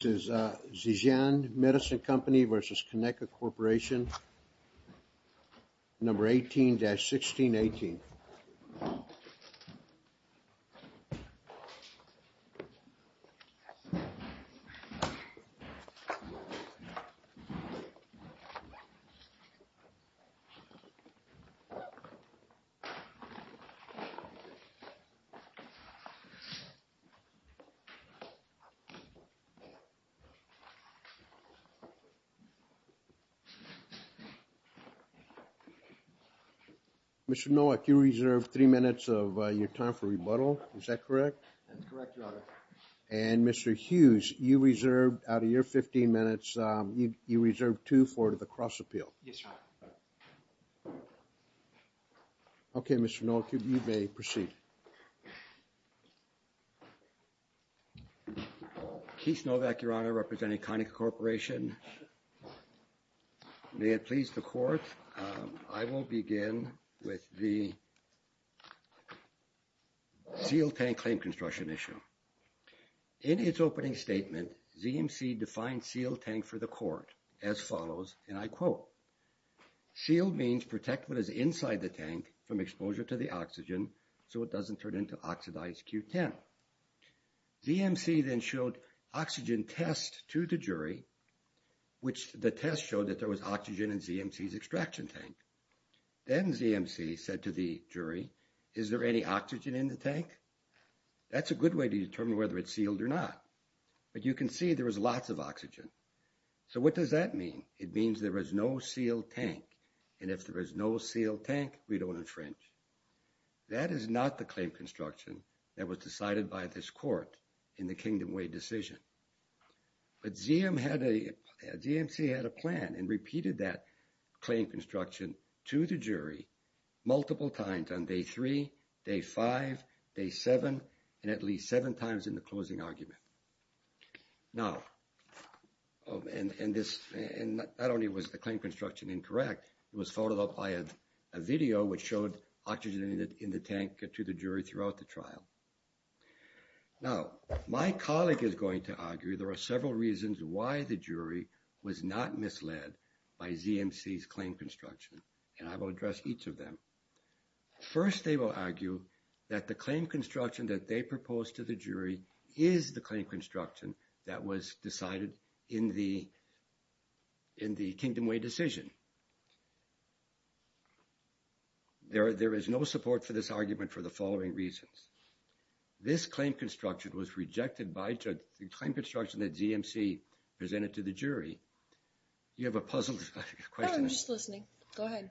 This is Zhejiang Medicine Co. v. Kaneka Corporation, No. 18-1618. Mr. Nowak, you reserved three minutes of your time for rebuttal. Is that correct? That's correct, Your Honor. And Mr. Hughes, out of your 15 minutes, you reserved two for the cross-appeal. Yes, Your Honor. Okay, Mr. Nowak, you may proceed. Keith Nowak, Your Honor, representing Kaneka Corporation. May it please the Court, I will begin with the sealed tank claim construction issue. In its opening statement, ZMC defined sealed tank for the Court as follows, and I quote, Sealed means protect what is inside the tank from exposure to the oxygen so it doesn't turn into oxidized Q10. ZMC then showed oxygen test to the jury, which the test showed that there was oxygen in ZMC's extraction tank. Then ZMC said to the jury, is there any oxygen in the tank? That's a good way to determine whether it's sealed or not. But you can see there was lots of oxygen. So what does that mean? It means there is no sealed tank. And if there is no sealed tank, we don't infringe. That is not the claim construction that was decided by this Court in the Kingdom Way decision. But ZMC had a plan and repeated that claim construction to the jury multiple times on day three, day five, day seven, and at least seven times in the closing argument. Now, and this, and not only was the claim construction incorrect, it was followed up by a video which showed oxygen in the tank to the jury throughout the trial. Now, my colleague is going to argue there are several reasons why the jury was not misled by ZMC's claim construction. And I will address each of them. First, they will argue that the claim construction that they proposed to the jury is the claim construction that was decided in the Kingdom Way decision. There is no support for this argument for the following reasons. This claim construction was rejected by the claim construction that ZMC presented to the jury. Do you have a puzzle question? No, I'm just listening. Go ahead.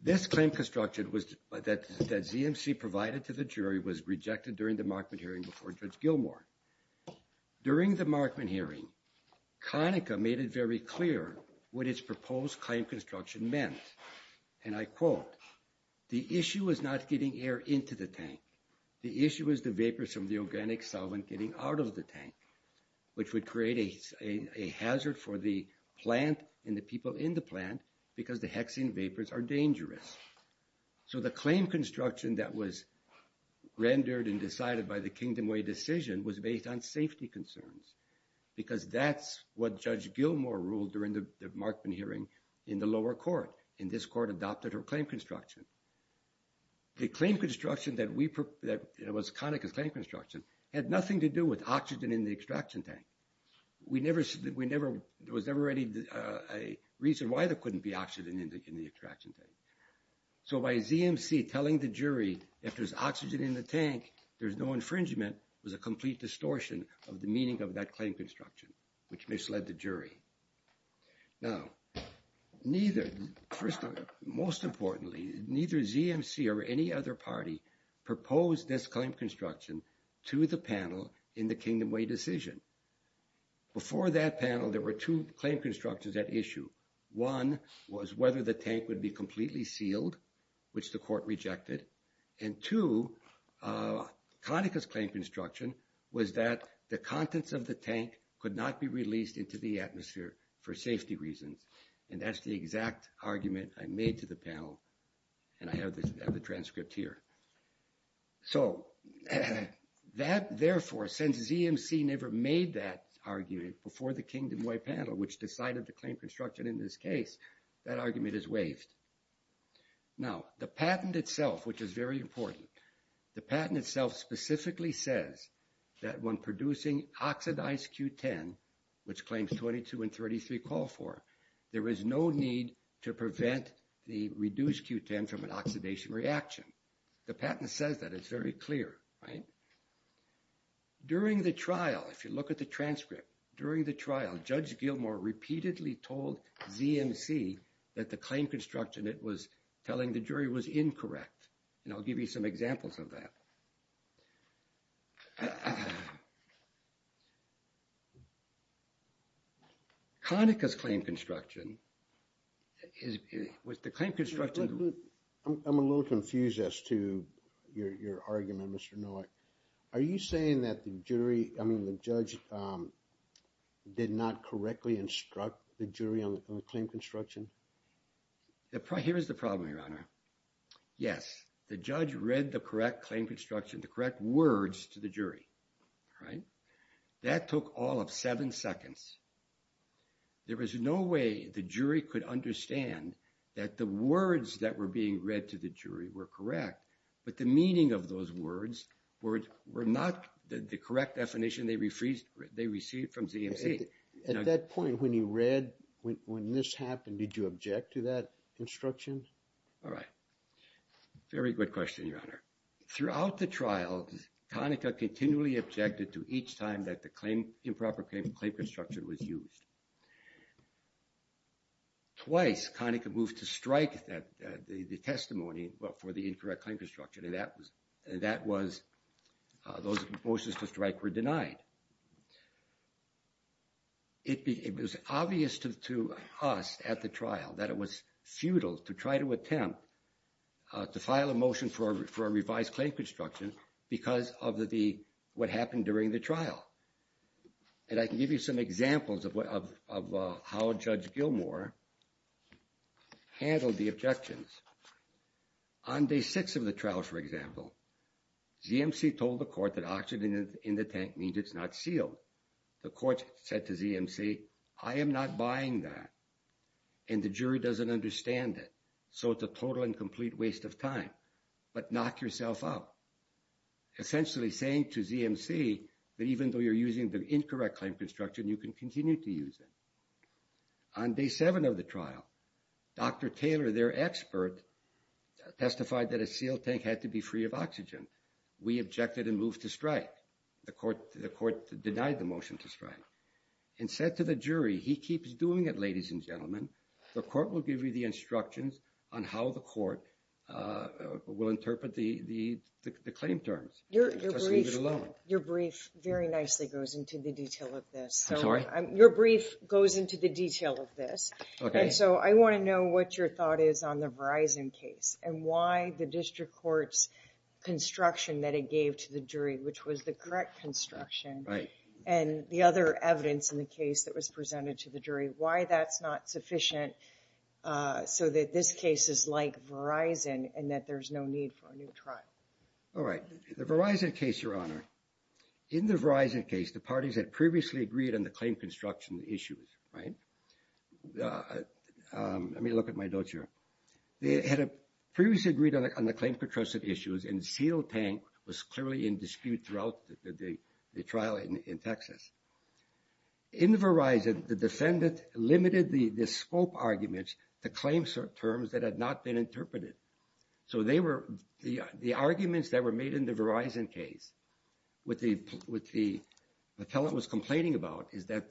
This claim construction that ZMC provided to the jury was rejected during the Markman hearing before Judge Gilmour. During the Markman hearing, Conaca made it very clear what its proposed claim construction meant. And I quote, the issue is not getting air into the tank. The issue is the vapors from the organic solvent getting out of the tank, which would create a hazard for the plant and the people in the plant because the hexane vapors are dangerous. So the claim construction that was rendered and decided by the Kingdom Way decision was based on safety concerns because that's what Judge Gilmour ruled during the Markman hearing in the lower court. And this court adopted her claim construction. The claim construction that was Conaca's claim construction had nothing to do with oxygen in the extraction tank. There was never any reason why there couldn't be oxygen in the extraction tank. So by ZMC telling the jury, if there's oxygen in the tank, there's no infringement, was a complete distortion of the meaning of that claim construction, which misled the jury. Now, neither, first of all, most importantly, neither ZMC or any other party proposed this claim construction to the panel in the Kingdom Way decision. Before that panel, there were two claim constructions at issue. One was whether the tank would be completely sealed, which the court rejected. And two, Conaca's claim construction was that the contents of the tank could not be released into the atmosphere for safety reasons. And that's the exact argument I made to the panel. And I have the transcript here. So that, therefore, since ZMC never made that argument before the Kingdom Way panel, which decided the claim construction in this case, that argument is waived. Now, the patent itself, which is very important. The patent itself specifically says that when producing oxidized Q10, which claims 22 and 33 call for, there is no need to prevent the reduced Q10 from an oxidation reaction. The patent says that. It's very clear, right? During the trial, if you look at the transcript, during the trial, Judge Gilmore repeatedly told ZMC that the claim construction it was telling the jury was incorrect. And I'll give you some examples of that. Conaca's claim construction was the claim construction. I'm a little confused as to your argument, Mr. Nowak. Are you saying that the jury, I mean, the judge did not correctly instruct the jury on the claim construction? Here's the problem, Your Honor. Yes, the judge read the correct claim construction, the correct words to the jury. Right? That took all of seven seconds. There was no way the jury could understand that the words that were being read to the jury were correct. But the meaning of those words were not the correct definition they received from ZMC. At that point when you read, when this happened, did you object to that instruction? All right. Very good question, Your Honor. Throughout the trial, Conaca continually objected to each time that the improper claim construction was used. Twice, Conaca moved to strike the testimony for the incorrect claim construction. And that was, those motions to strike were denied. It was obvious to us at the trial that it was futile to try to attempt to file a motion for a revised claim construction because of what happened during the trial. And I can give you some examples of how Judge Gilmour handled the objections. On day six of the trial, for example, ZMC told the court that oxygen in the tank means it's not sealed. The court said to ZMC, I am not buying that. And the jury doesn't understand it. So it's a total and complete waste of time. But knock yourself out. Essentially saying to ZMC that even though you're using the incorrect claim construction, you can continue to use it. On day seven of the trial, Dr. Taylor, their expert, testified that a sealed tank had to be free of oxygen. We objected and moved to strike. The court denied the motion to strike and said to the jury, he keeps doing it, ladies and gentlemen. The court will give you the instructions on how the court will interpret the claim terms. Just leave it alone. Your brief very nicely goes into the detail of this. I'm sorry? Your brief goes into the detail of this. Okay. And so I want to know what your thought is on the Verizon case and why the district court's construction that it gave to the jury, which was the correct construction. Right. And the other evidence in the case that was presented to the jury, why that's not sufficient so that this case is like Verizon and that there's no need for a new trial. All right. The Verizon case, Your Honor, in the Verizon case, the parties had previously agreed on the claim construction issues. Right. Let me look at my notes here. They had previously agreed on the claim construction issues and the seal tank was clearly in dispute throughout the trial in Texas. In Verizon, the defendant limited the scope arguments to claim terms that had not been interpreted. So they were the arguments that were made in the Verizon case with the appellant was complaining about is that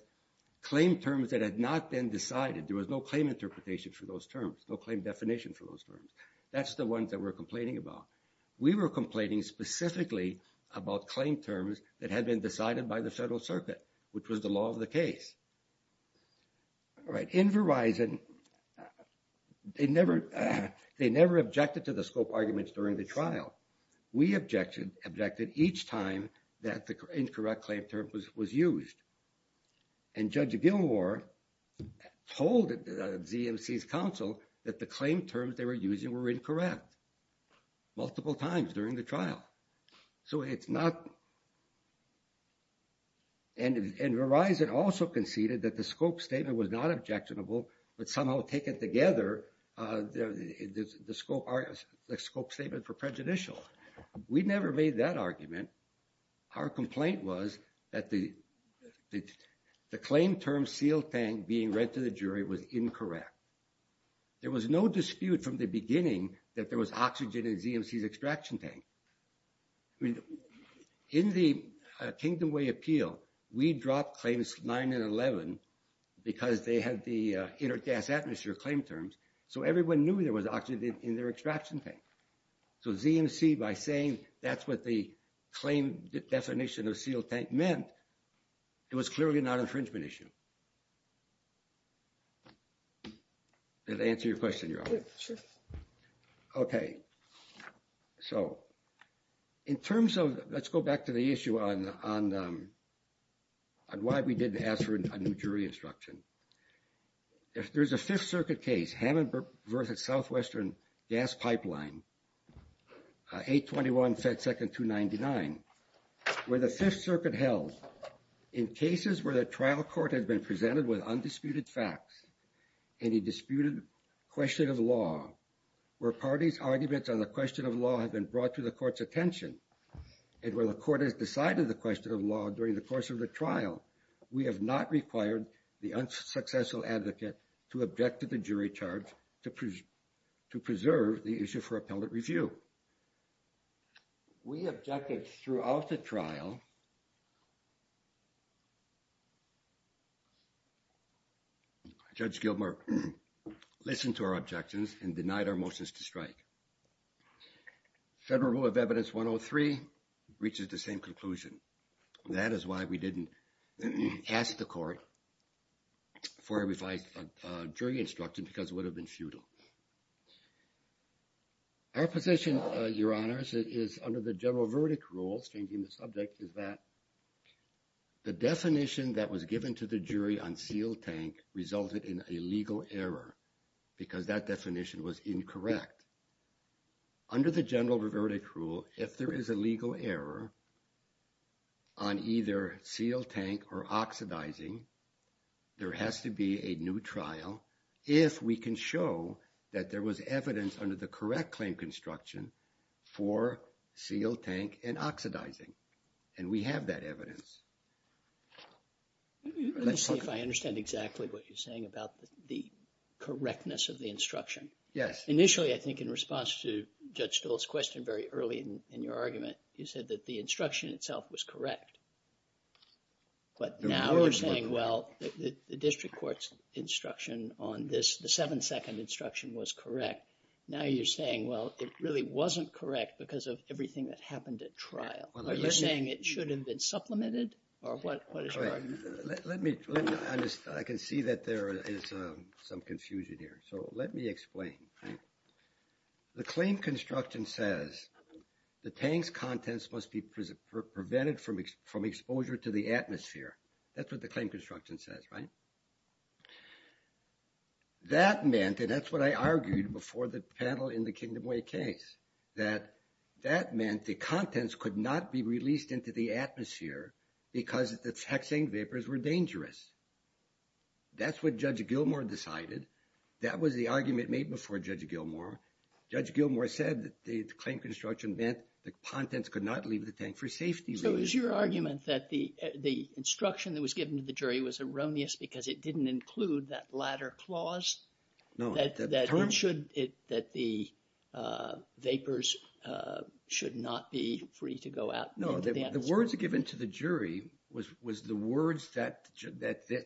claim terms that had not been decided, there was no claim interpretation for those terms, no claim definition for those terms. That's the ones that we're complaining about. We were complaining specifically about claim terms that had been decided by the Federal Circuit, which was the law of the case. All right. In Verizon, they never objected to the scope arguments during the trial. We objected each time that the incorrect claim term was used. And Judge Gilmour told ZMC's counsel that the claim terms they were using were incorrect multiple times during the trial. So it's not... And Verizon also conceded that the scope statement was not objectionable, but somehow taken together, the scope statement for prejudicial. We never made that argument. Our complaint was that the claim term seal tank being read to the jury was incorrect. There was no dispute from the beginning that there was oxygen in ZMC's extraction tank. In the Kingdom Way appeal, we dropped claims 9 and 11 because they had the intergas atmosphere claim terms. So everyone knew there was oxygen in their extraction tank. So ZMC, by saying that's what the claim definition of seal tank meant, it was clearly not an infringement issue. Does that answer your question, Your Honor? Sure. Okay. So, in terms of... Let's go back to the issue on why we didn't ask for a new jury instruction. If there's a Fifth Circuit case, Hammond versus Southwestern Gas Pipeline, 821 Fed Second 299, where the Fifth Circuit held, in cases where the trial court has been presented with undisputed facts, any disputed question of law, where parties' arguments on the question of law have been brought to the court's attention, and where the court has decided the question of law during the course of the trial, we have not required the unsuccessful advocate to object to the jury charge to preserve the issue for appellate review. We objected throughout the trial. Judge Gilmer listened to our objections and denied our motions to strike. Federal Rule of Evidence 103 reaches the same conclusion. That is why we didn't ask the court for a revised jury instruction because it would have been futile. Our position, Your Honors, is under the general verdict rules, changing the subject, is that the definition that was given to the jury on seal tank resulted in a legal error because that definition was incorrect. Under the general verdict rule, if there is a legal error on either seal tank or oxidizing, there has to be a new trial if we can show that there was evidence under the correct claim construction for seal tank and oxidizing, and we have that evidence. Let's see if I understand exactly what you're saying about the correctness of the instruction. Yes. Initially, I think in response to Judge Stoll's question very early in your argument, you said that the instruction itself was correct. But now we're saying, well, the district court's instruction on this, the seven-second instruction was correct. Now you're saying, well, it really wasn't correct because of everything that happened at trial. Are you saying it should have been supplemented or what is your argument? Let me – I can see that there is some confusion here. So let me explain. The claim construction says the tank's contents must be prevented from exposure to the atmosphere. That's what the claim construction says, right? That meant, and that's what I argued before the panel in the Kingdom Way case, that that meant the contents could not be released into the atmosphere because the hexane vapors were dangerous. That's what Judge Gilmour decided. That was the argument made before Judge Gilmour. Judge Gilmour said that the claim construction meant the contents could not leave the tank for safety reasons. So is your argument that the instruction that was given to the jury was erroneous because it didn't include that latter clause? No. That it should – that the vapors should not be free to go out into the atmosphere. No, the words given to the jury was the words that the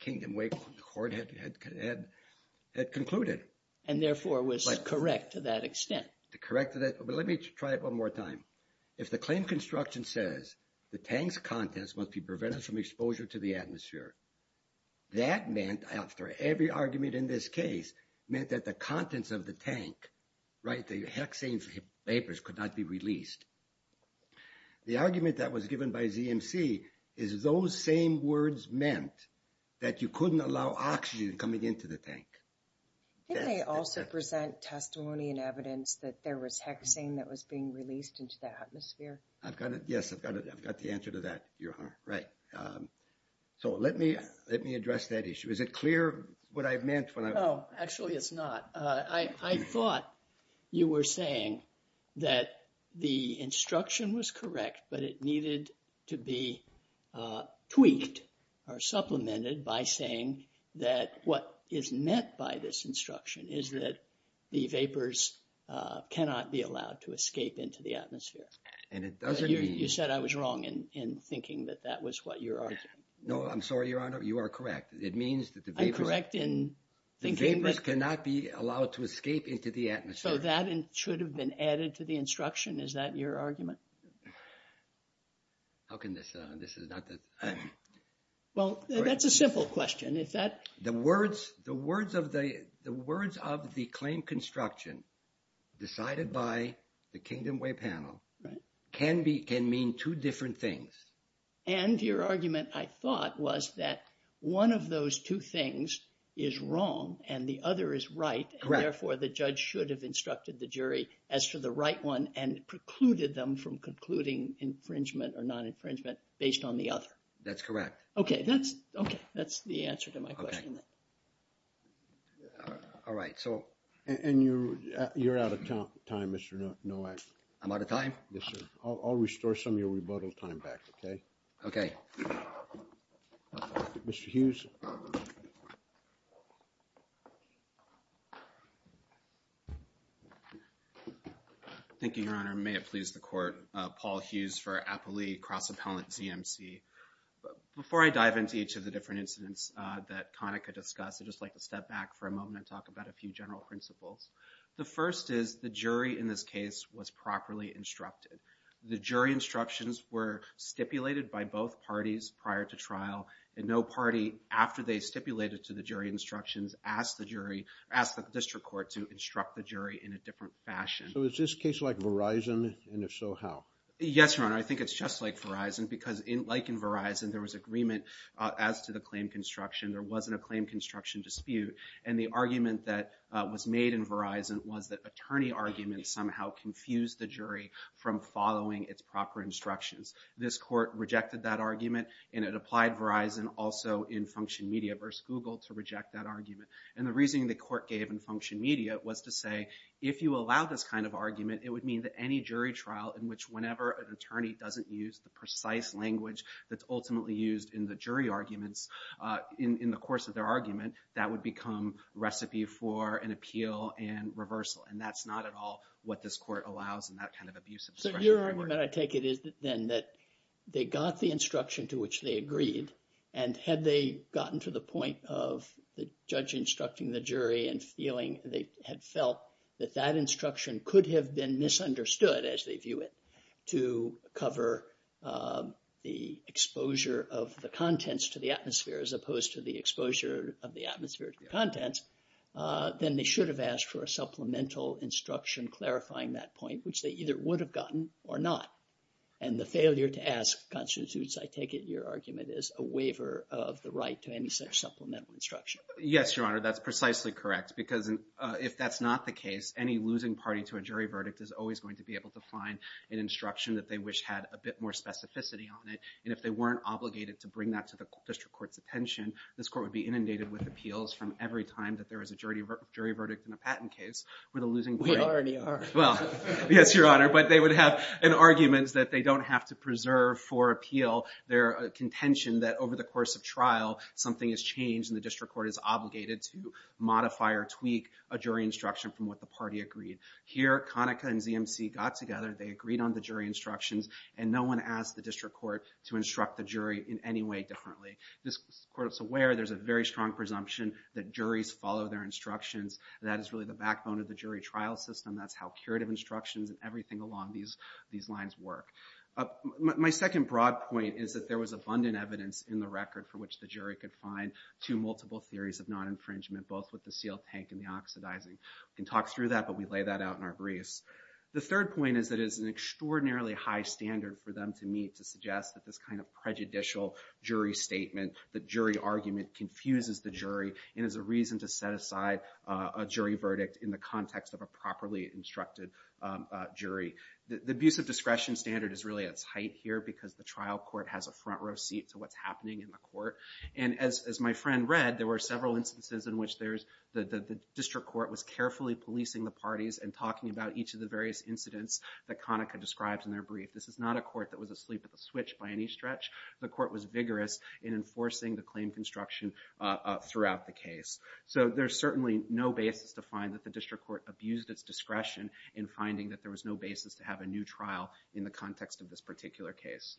Kingdom Way court had concluded. And therefore was correct to that extent. Correct to that – but let me try it one more time. If the claim construction says the tank's contents must be prevented from exposure to the atmosphere, that meant, after every argument in this case, meant that the contents of the tank, right, the hexane vapors could not be released. The argument that was given by ZMC is those same words meant that you couldn't allow oxygen coming into the tank. Didn't they also present testimony and evidence that there was hexane that was being released into the atmosphere? I've got it. Yes, I've got it. I've got the answer to that, Your Honor. Right. So let me address that issue. Is it clear what I meant when I – No, actually it's not. I thought you were saying that the instruction was correct, but it needed to be tweaked or supplemented by saying that what is meant by this instruction is that the vapors cannot be allowed to escape into the atmosphere. And it doesn't mean – No, I'm sorry, Your Honor. You are correct. It means that the vapors – I'm correct in thinking that – The vapors cannot be allowed to escape into the atmosphere. So that should have been added to the instruction. Is that your argument? How can this – this is not the – Well, that's a simple question. If that – The words of the claim construction decided by the Kingdom Way panel can mean two different things. And your argument, I thought, was that one of those two things is wrong and the other is right. Correct. Therefore, the judge should have instructed the jury as to the right one and precluded them from concluding infringement or non-infringement based on the other. That's correct. Okay. That's – okay. That's the answer to my question. Okay. All right. So – And you – you're out of time, Mr. Nowak. I'm out of time? Yes, sir. I'll – I'll restore some of your rebuttal time back, okay? Okay. Mr. Hughes. Thank you, Your Honor. May it please the Court. Paul Hughes for Applee Cross-Appellant ZMC. Before I dive into each of the different incidents that Connick could discuss, I'd just like to step back for a moment and talk about a few general principles. The first is the jury in this case was properly instructed. The jury instructions were stipulated by both parties prior to trial, and no party, after they stipulated to the jury instructions, asked the jury – asked the district court to instruct the jury in a different fashion. So is this case like Verizon, and if so, how? Yes, Your Honor. I think it's just like Verizon because, like in Verizon, there was agreement as to the claim construction. There wasn't a claim construction dispute. And the argument that was made in Verizon was that attorney arguments somehow confused the jury from following its proper instructions. This court rejected that argument, and it applied Verizon also in Function Media versus Google to reject that argument. And the reasoning the court gave in Function Media was to say, if you allow this kind of argument, it would mean that any jury trial in which whenever an attorney doesn't use the precise language that's ultimately used in the jury arguments in the course of their argument, that would become recipe for an appeal and reversal. And that's not at all what this court allows in that kind of abusive expression. So your argument, I take it, is then that they got the instruction to which they agreed, and had they gotten to the point of the judge instructing the jury and feeling they had felt that that instruction could have been misunderstood, as they view it, to cover the exposure of the contents to the atmosphere as opposed to the exposure of the atmospheric contents, then they should have asked for a supplemental instruction clarifying that point, which they either would have gotten or not. And the failure to ask constitutes, I take it, your argument, is a waiver of the right to any such supplemental instruction. Yes, Your Honor, that's precisely correct. Because if that's not the case, any losing party to a jury verdict is always going to be able to find an instruction that they wish had a bit more specificity on it. And if they weren't obligated to bring that to the district court's attention, this court would be inundated with appeals from every time that there was a jury verdict in a patent case where the losing party... We already are. Well, yes, Your Honor. But they would have an argument that they don't have to preserve for appeal their contention that over the course of trial something has changed and the district court is obligated to modify or tweak a jury instruction from what the party agreed. Here, Conaca and ZMC got together, they agreed on the jury instructions, and no one asked the district court to instruct the jury in any way differently. This court is aware there's a very strong presumption that juries follow their instructions. That is really the backbone of the jury trial system. That's how curative instructions and everything along these lines work. My second broad point is that there was abundant evidence in the record for which the jury could find two multiple theories of non-infringement, both with the sealed tank and the oxidizing. We can talk through that, but we lay that out in our briefs. The third point is that it is an extraordinarily high standard for them to meet to suggest that this kind of prejudicial jury statement, the jury argument, confuses the jury and is a reason to set aside a jury verdict in the context of a properly instructed jury. The abuse of discretion standard is really at its height here because the trial court has a front row seat to what's happening in the court. As my friend read, there were several instances in which the district court was carefully policing the parties and talking about each of the various incidents that Conaca describes in their brief. This is not a court that was asleep at the switch by any stretch. The court was vigorous in enforcing the claim construction throughout the case. So there's certainly no basis to find that the district court abused its discretion in finding that there was no basis to have a new trial in the context of this particular case.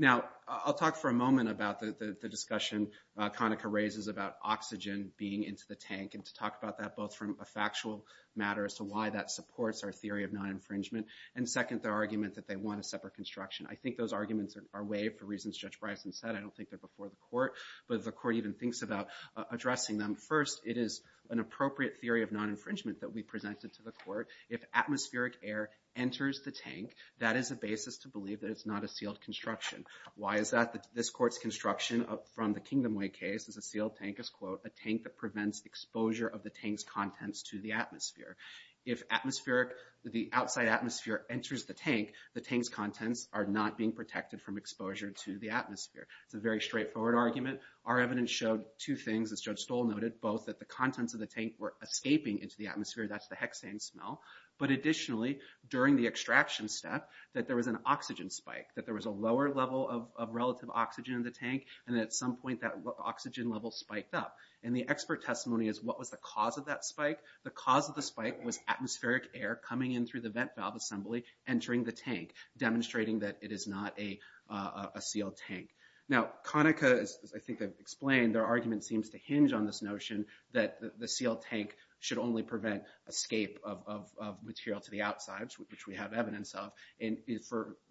Now, I'll talk for a moment about the discussion Conaca raises about oxygen being into the tank and to talk about that both from a factual matter as to why that supports our theory of non-infringement and second, their argument that they want a separate construction. I think those arguments are waived for reasons Judge Bryson said. I don't think they're before the court, but the court even thinks about addressing them. First, it is an appropriate theory of non-infringement that we presented to the court. If atmospheric air enters the tank, that is a basis to believe that it's not a sealed construction. Why is that? This court's construction from the Kingdom Way case is a sealed tank, a tank that prevents exposure of the tank's contents to the atmosphere. If the outside atmosphere enters the tank, the tank's contents are not being protected from exposure to the atmosphere. It's a very straightforward argument. Our evidence showed two things, as Judge Stoll noted, both that the contents of the tank were escaping into the atmosphere, that's the hexane smell, but additionally, during the extraction step, that there was an oxygen spike, that there was a lower level of relative oxygen in the tank, and at some point that oxygen level spiked up. The expert testimony is, what was the cause of that spike? The cause of the spike was atmospheric air coming in through the vent valve assembly, entering the tank, demonstrating that it is not a sealed tank. Now, Conaca, as I think I've explained, their argument seems to hinge on this notion that the sealed tank should only prevent escape of material to the outside, which we have evidence of, and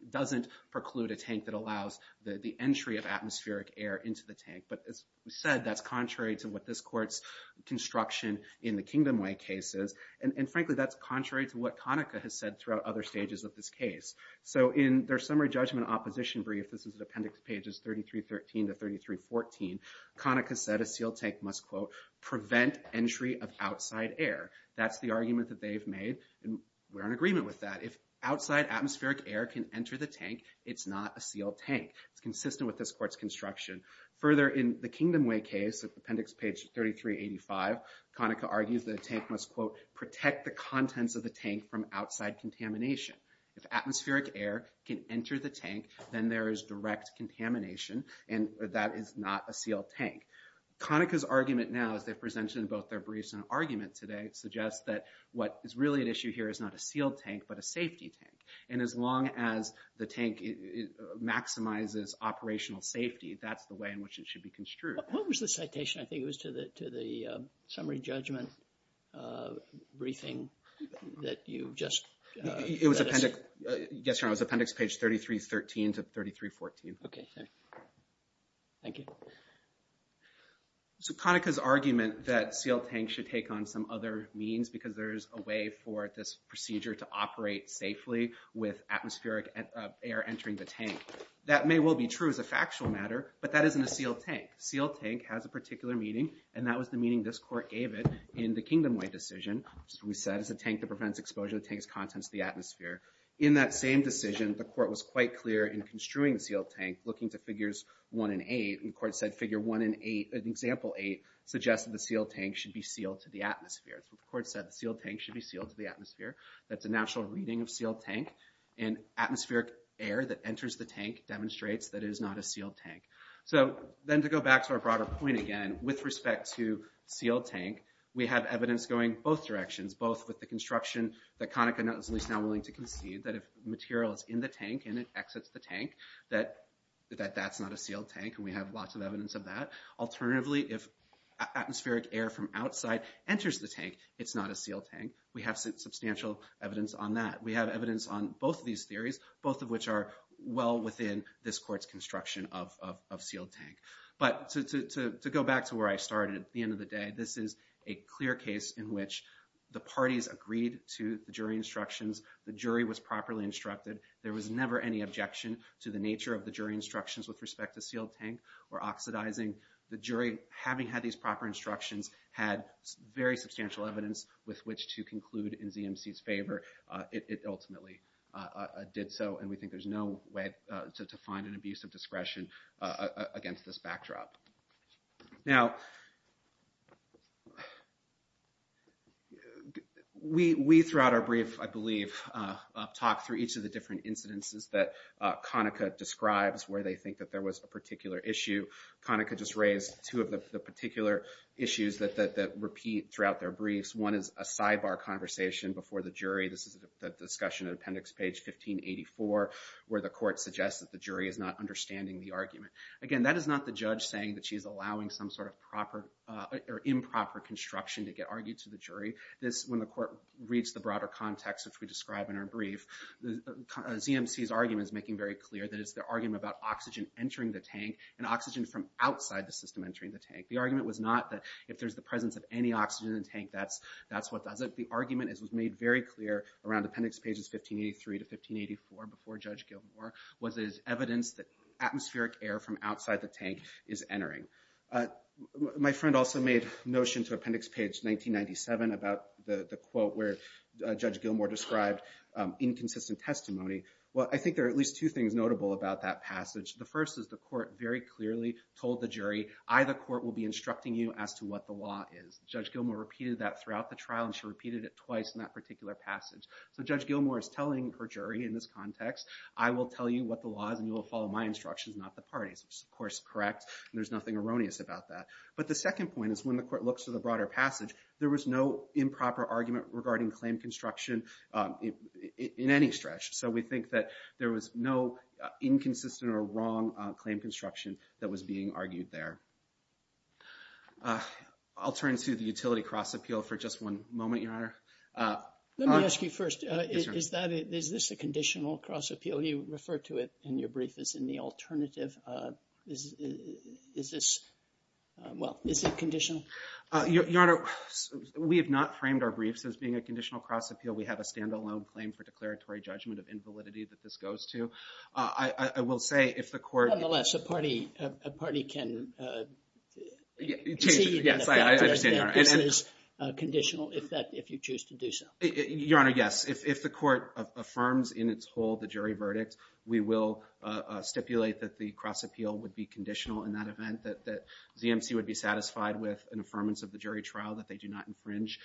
doesn't preclude a tank that allows the entry of atmospheric air into the tank. But as we said, that's contrary to what this Court's construction in the Kingdom Way case is, and frankly, that's contrary to what Conaca has said throughout other stages of this case. So in their summary judgment opposition brief, this is appendix pages 3313 to 3314, Conaca said a sealed tank must, quote, prevent entry of outside air. That's the argument that they've made, and we're in agreement with that. If outside atmospheric air can enter the tank, it's not a sealed tank. It's consistent with this Court's construction. Further, in the Kingdom Way case, appendix page 3385, Conaca argues that a tank must, quote, protect the contents of the tank from outside contamination. If atmospheric air can enter the tank, then there is direct contamination, and that is not a sealed tank. Conaca's argument now, as they've presented in both their briefs and their argument today, suggests that what is really at issue here is not a sealed tank, but a safety tank. And as long as the tank maximizes operational safety, that's the way in which it should be construed. What was the citation? I think it was to the summary judgment briefing that you just said. It was appendix, yes, Your Honor, it was appendix page 3313 to 3314. Okay, thank you. So Conaca's argument that sealed tanks should take on some other means because there's a way for this procedure to operate safely with atmospheric air entering the tank. That may well be true as a factual matter, but that isn't a sealed tank. Sealed tank has a particular meaning, and that was the meaning this Court gave it in the Kingdom Way decision. We said it's a tank that prevents exposure to the tank's contents to the atmosphere. In that same decision, the Court was quite clear in construing the sealed tank, looking to Figures 1 and 8, and the Court said Figure 1 and 8, Example 8, suggests that the sealed tank should be sealed to the atmosphere. So the Court said the sealed tank should be sealed to the atmosphere. That's a natural reading of sealed tank, and atmospheric air that enters the tank demonstrates that it is not a sealed tank. So then to go back to our broader point again, with respect to sealed tank, we have evidence going both directions, both with the construction that Conaca is now willing to concede, that if material is in the tank and it exits the tank, that that's not a sealed tank, and we have lots of evidence of that. Alternatively, if atmospheric air from outside enters the tank, it's not a sealed tank. We have substantial evidence on that. We have evidence on both of these theories, both of which are well within this Court's construction of sealed tank. But to go back to where I started at the end of the day, this is a clear case in which the parties agreed to the jury instructions. The jury was properly instructed. There was never any objection to the nature of the jury instructions with respect to sealed tank or oxidizing. The jury, having had these proper instructions, had very substantial evidence with which to conclude in ZMC's favor. It ultimately did so, and we think there's no way to find an abuse of discretion against this backdrop. Now, we, throughout our brief, I believe, talked through each of the different incidences that Conaca describes where they think that there was a particular issue. Conaca just raised two of the particular issues that repeat throughout their briefs. One is a sidebar conversation before the jury. This is the discussion at appendix page 1584, where the Court suggests that the jury is not understanding the argument. Again, that is not the judge saying that she is allowing some sort of improper construction to get argued to the jury. This, when the Court reads the broader context, which we describe in our brief, ZMC's argument is making very clear that it's the argument about oxygen entering the tank and oxygen from outside the system entering the tank. The argument was not that if there's the presence of any oxygen in the tank, that's what does it. The argument, as was made very clear around appendix pages 1583 to 1584 before Judge Gilmour, was as evidence that atmospheric air from outside the tank is entering. My friend also made notion to appendix page 1997 about the quote where Judge Gilmour described inconsistent testimony. Well, I think there are at least two things notable about that passage. The first is the Court very clearly told the jury, I, the Court, will be instructing you as to what the law is. Judge Gilmour repeated that throughout the trial, and she repeated it twice in that particular passage. So Judge Gilmour is telling her jury in this context, I will tell you what the law is and you will follow my instructions, not the party's, which is, of course, correct. There's nothing erroneous about that. But the second point is when the Court looks to the broader passage, there was no improper argument regarding claim construction in any stretch. So we think that there was no inconsistent or wrong claim construction that was being argued there. Let me ask you first, is this a conditional cross-appeal? You refer to it in your brief as in the alternative. Is this, well, is it conditional? Your Honor, we have not framed our briefs as being a conditional cross-appeal. We have a standalone claim for declaratory judgment of invalidity that this goes to. I will say if the Court. Nonetheless, a party can see that this is conditional. If you choose to do so. Your Honor, yes. If the Court affirms in its whole the jury verdict, we will stipulate that the cross-appeal would be conditional in that event, that ZMC would be satisfied with an affirmance of the jury trial that they do not infringe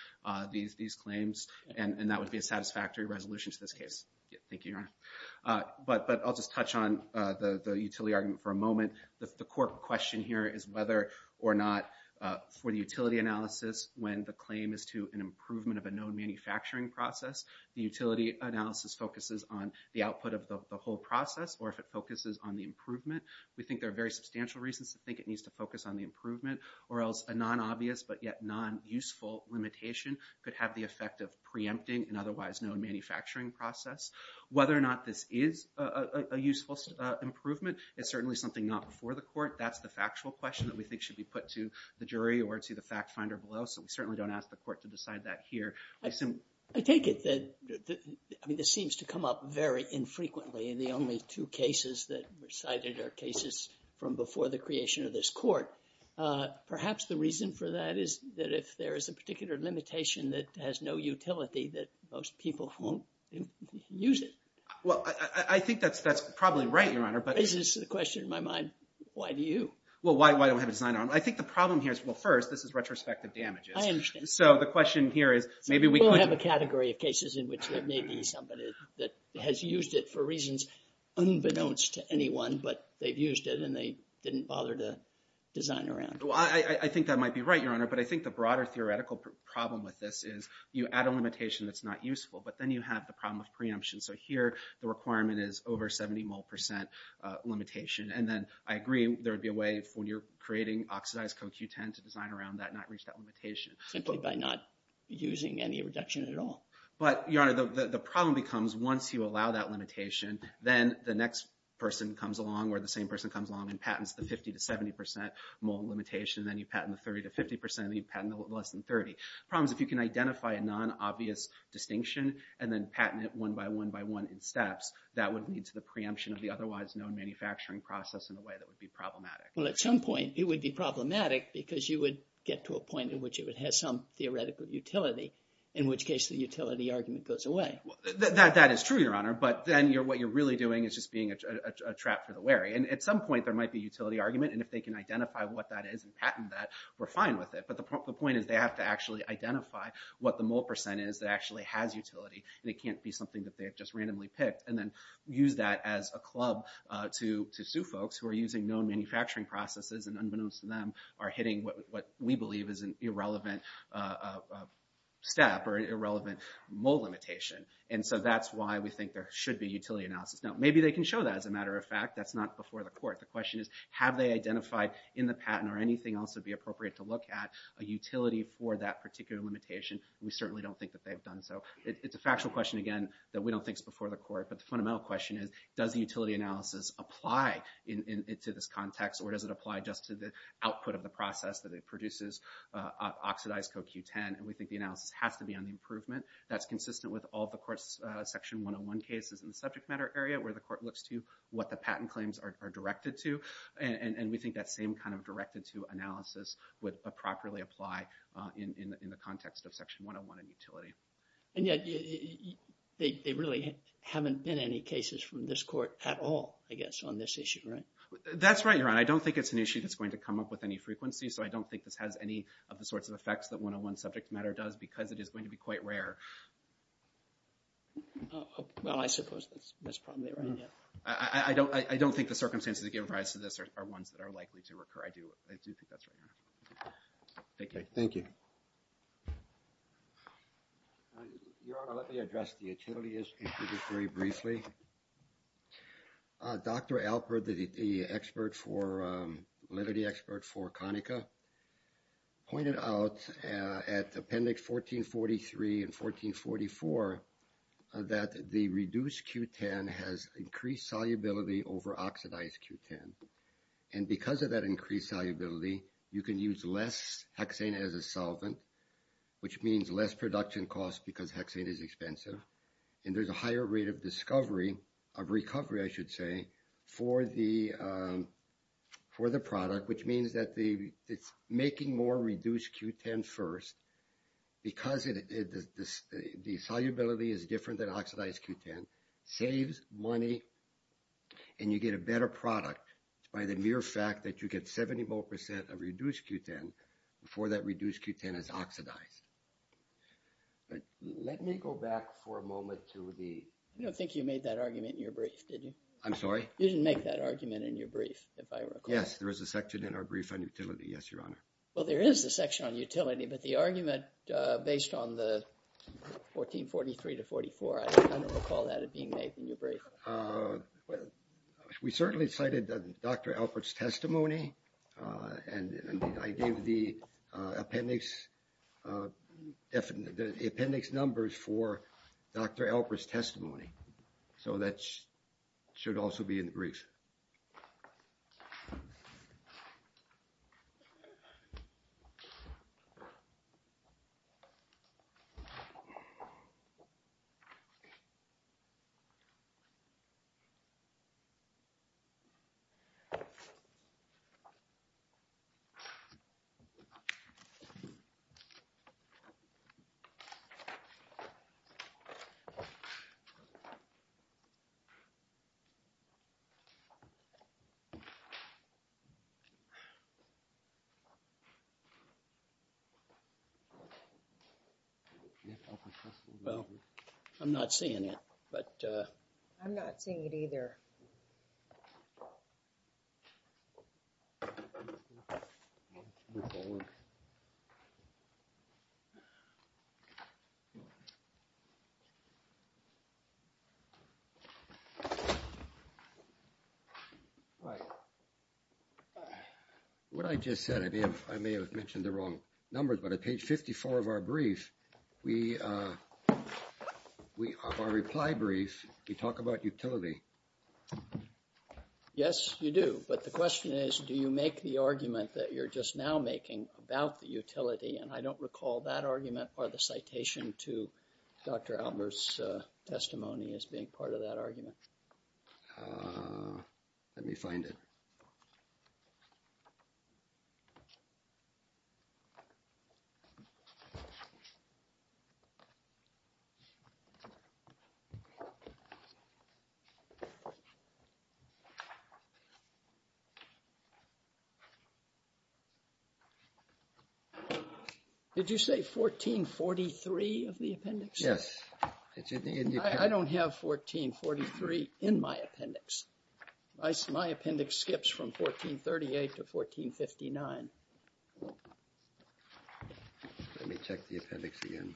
these claims and that would be a satisfactory resolution to this case. Thank you, Your Honor. But I'll just touch on the utility argument for a moment. The Court question here is whether or not for the utility analysis when the process, the utility analysis focuses on the output of the whole process or if it focuses on the improvement. We think there are very substantial reasons to think it needs to focus on the improvement or else a non-obvious but yet non-useful limitation could have the effect of preempting an otherwise known manufacturing process. Whether or not this is a useful improvement is certainly something not before the Court. That's the factual question that we think should be put to the jury or to the fact finder below. So we certainly don't ask the Court to decide that here. I take it that, I mean, this seems to come up very infrequently in the only two cases that were cited are cases from before the creation of this Court. Perhaps the reason for that is that if there is a particular limitation that has no utility that most people won't use it. Well, I think that's probably right, Your Honor. This is the question in my mind. Why do you? Well, why don't we have a design? I think the problem here is, well, first, this is retrospective damages. I understand. So the question here is maybe we could. We'll have a category of cases in which there may be somebody that has used it for reasons unbeknownst to anyone, but they've used it and they didn't bother to design around it. Well, I think that might be right, Your Honor, but I think the broader theoretical problem with this is you add a limitation that's not useful, but then you have the problem of preemption. So here the requirement is over 70 mole percent limitation. And then I agree there would be a way for when you're creating oxidized CoQ10 to design around that and not reach that limitation. Simply by not using any reduction at all. But, Your Honor, the problem becomes once you allow that limitation, then the next person comes along or the same person comes along and patents the 50 to 70 percent mole limitation, then you patent the 30 to 50 percent, then you patent the less than 30. The problem is if you can identify a non-obvious distinction and then patent it one by one by one in steps, that would lead to the preemption of the process in a way that would be problematic. Well, at some point it would be problematic because you would get to a point in which it would have some theoretical utility, in which case the utility argument goes away. That is true, Your Honor, but then what you're really doing is just being a trap for the wary. And at some point there might be a utility argument, and if they can identify what that is and patent that, we're fine with it. But the point is they have to actually identify what the mole percent is that actually has utility, and it can't be something that they have just known manufacturing processes and unbeknownst to them are hitting what we believe is an irrelevant step or irrelevant mole limitation. And so that's why we think there should be utility analysis. Now, maybe they can show that as a matter of fact. That's not before the court. The question is, have they identified in the patent or anything else that would be appropriate to look at a utility for that particular limitation? We certainly don't think that they've done so. It's a factual question, again, that we don't think is before the court, but the fundamental question is, does the utility analysis apply to this context or does it apply just to the output of the process that it produces, oxidized CoQ10, and we think the analysis has to be on the improvement. That's consistent with all the court's Section 101 cases in the subject matter area where the court looks to what the patent claims are directed to, and we think that same kind of directed-to analysis would properly apply in the context of Section 101 in utility. And yet there really haven't been any cases from this court at all, I guess, on this issue, right? That's right, Your Honor. I don't think it's an issue that's going to come up with any frequency, so I don't think this has any of the sorts of effects that 101 subject matter does because it is going to be quite rare. Well, I suppose that's probably right, yeah. I don't think the circumstances that give rise to this are ones that are likely to recur. I do think that's right, Your Honor. Thank you. Thank you. Your Honor, let me address the utility issue very briefly. Dr. Alpert, the expert for – validity expert for Conica, pointed out at Appendix 1443 and 1444 that the reduced Q10 has increased solubility over oxidized Q10. And because of that increased solubility, you can use less hexane as a solvent, which means less production cost because hexane is expensive. And there's a higher rate of discovery – of recovery, I should say, for the product, which means that it's making more reduced Q10 first. Because the solubility is different than oxidized Q10, saves money and you get a better product by the mere fact that you get 70 more percent of reduced Q10 before that reduced Q10 is oxidized. But let me go back for a moment to the – I don't think you made that argument in your brief, did you? I'm sorry? You didn't make that argument in your brief, if I recall. Yes, there is a section in our brief on utility. Yes, Your Honor. Well, there is a section on utility, but the argument based on the 1443-44, I don't recall that being made in your brief. We certainly cited Dr. Alpert's testimony, and I gave the appendix numbers for Dr. Alpert's testimony. So that should also be in the brief. Thank you. Well, I'm not seeing it, but… I'm not seeing it either. What I just said, I may have mentioned the wrong numbers, but at page 54 of our brief, we – of our reply brief, we talk about utility. Yes, you do. But the question is, do you make the argument that you're just now making about the utility? And I don't recall that argument or the citation to Dr. Alpert's testimony as being part of that argument. Let me find it. Did you say 1443 of the appendix? Yes. I don't have 1443 in my appendix. My appendix skips from 1438 to 1459. Let me check the appendix again.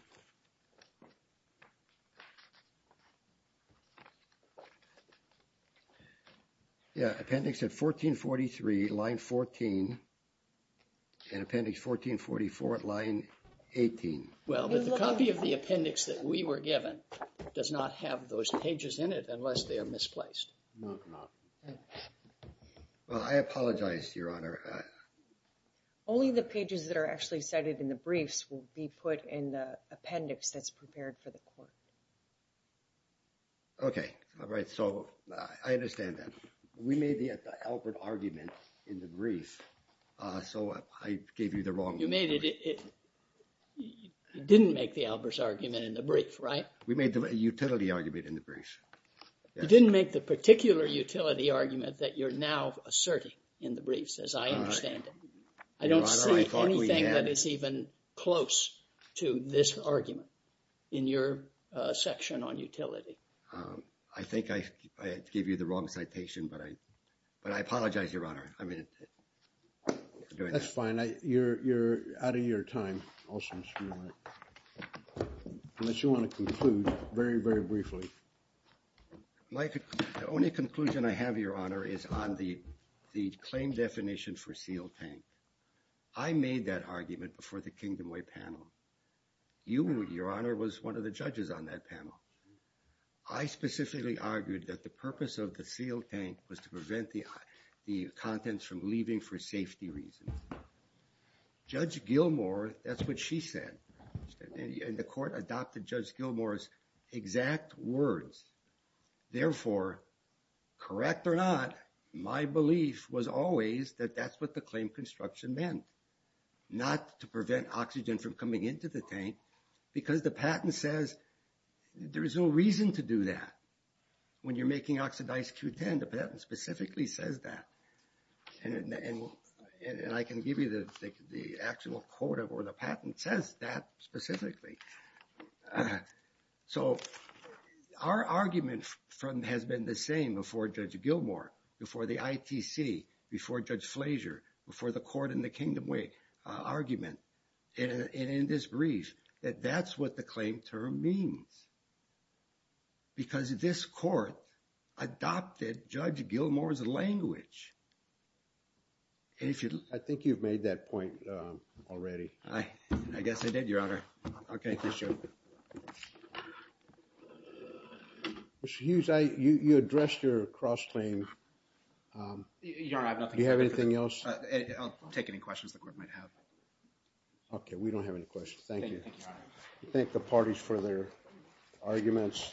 Yeah, appendix at 1443, line 14, and appendix 1444 at line 18. Well, but the copy of the appendix that we were given does not have those pages in it unless they are misplaced. No, they're not. Well, I apologize, Your Honor. Only the pages that are actually cited in the briefs will be put in the appendix. The appendix that's prepared for the court. Okay, all right. So I understand that. We made the Albert argument in the brief, so I gave you the wrong one. You made it. You didn't make the Albert's argument in the brief, right? We made the utility argument in the brief. You didn't make the particular utility argument that you're now asserting in the briefs, as I understand it. I don't see anything that is even close to this argument in your section on utility. I think I gave you the wrong citation, but I apologize, Your Honor. That's fine. You're out of your time. Unless you want to conclude very, very briefly. My only conclusion I have, Your Honor, is on the claim definition for a sealed tank. I made that argument before the Kingdom Way panel. You, Your Honor, was one of the judges on that panel. I specifically argued that the purpose of the sealed tank was to prevent the contents from leaving for safety reasons. Judge Gilmour, that's what she said. And the court adopted Judge Gilmour's exact words. Therefore, correct or not, my belief was always that that's what the claim construction meant. Not to prevent oxygen from coming into the tank, because the patent says there's no reason to do that. When you're making oxidized Q10, the patent specifically says that. And I can give you the actual quote, or the patent says that specifically. So, our argument has been the same before Judge Gilmour, before the ITC, before Judge Flasher, before the court in the Kingdom Way argument, and in this brief, that that's what the claim term means. Because this court adopted Judge Gilmour's language. I think you've made that point already. I guess I did, Your Honor. Okay, thank you, sir. Mr. Hughes, you addressed your cross-claim. Your Honor, I have nothing to add. Do you have anything else? I'll take any questions the court might have. Okay, we don't have any questions. Thank you. Thank you, Your Honor. Thank the parties for their arguments.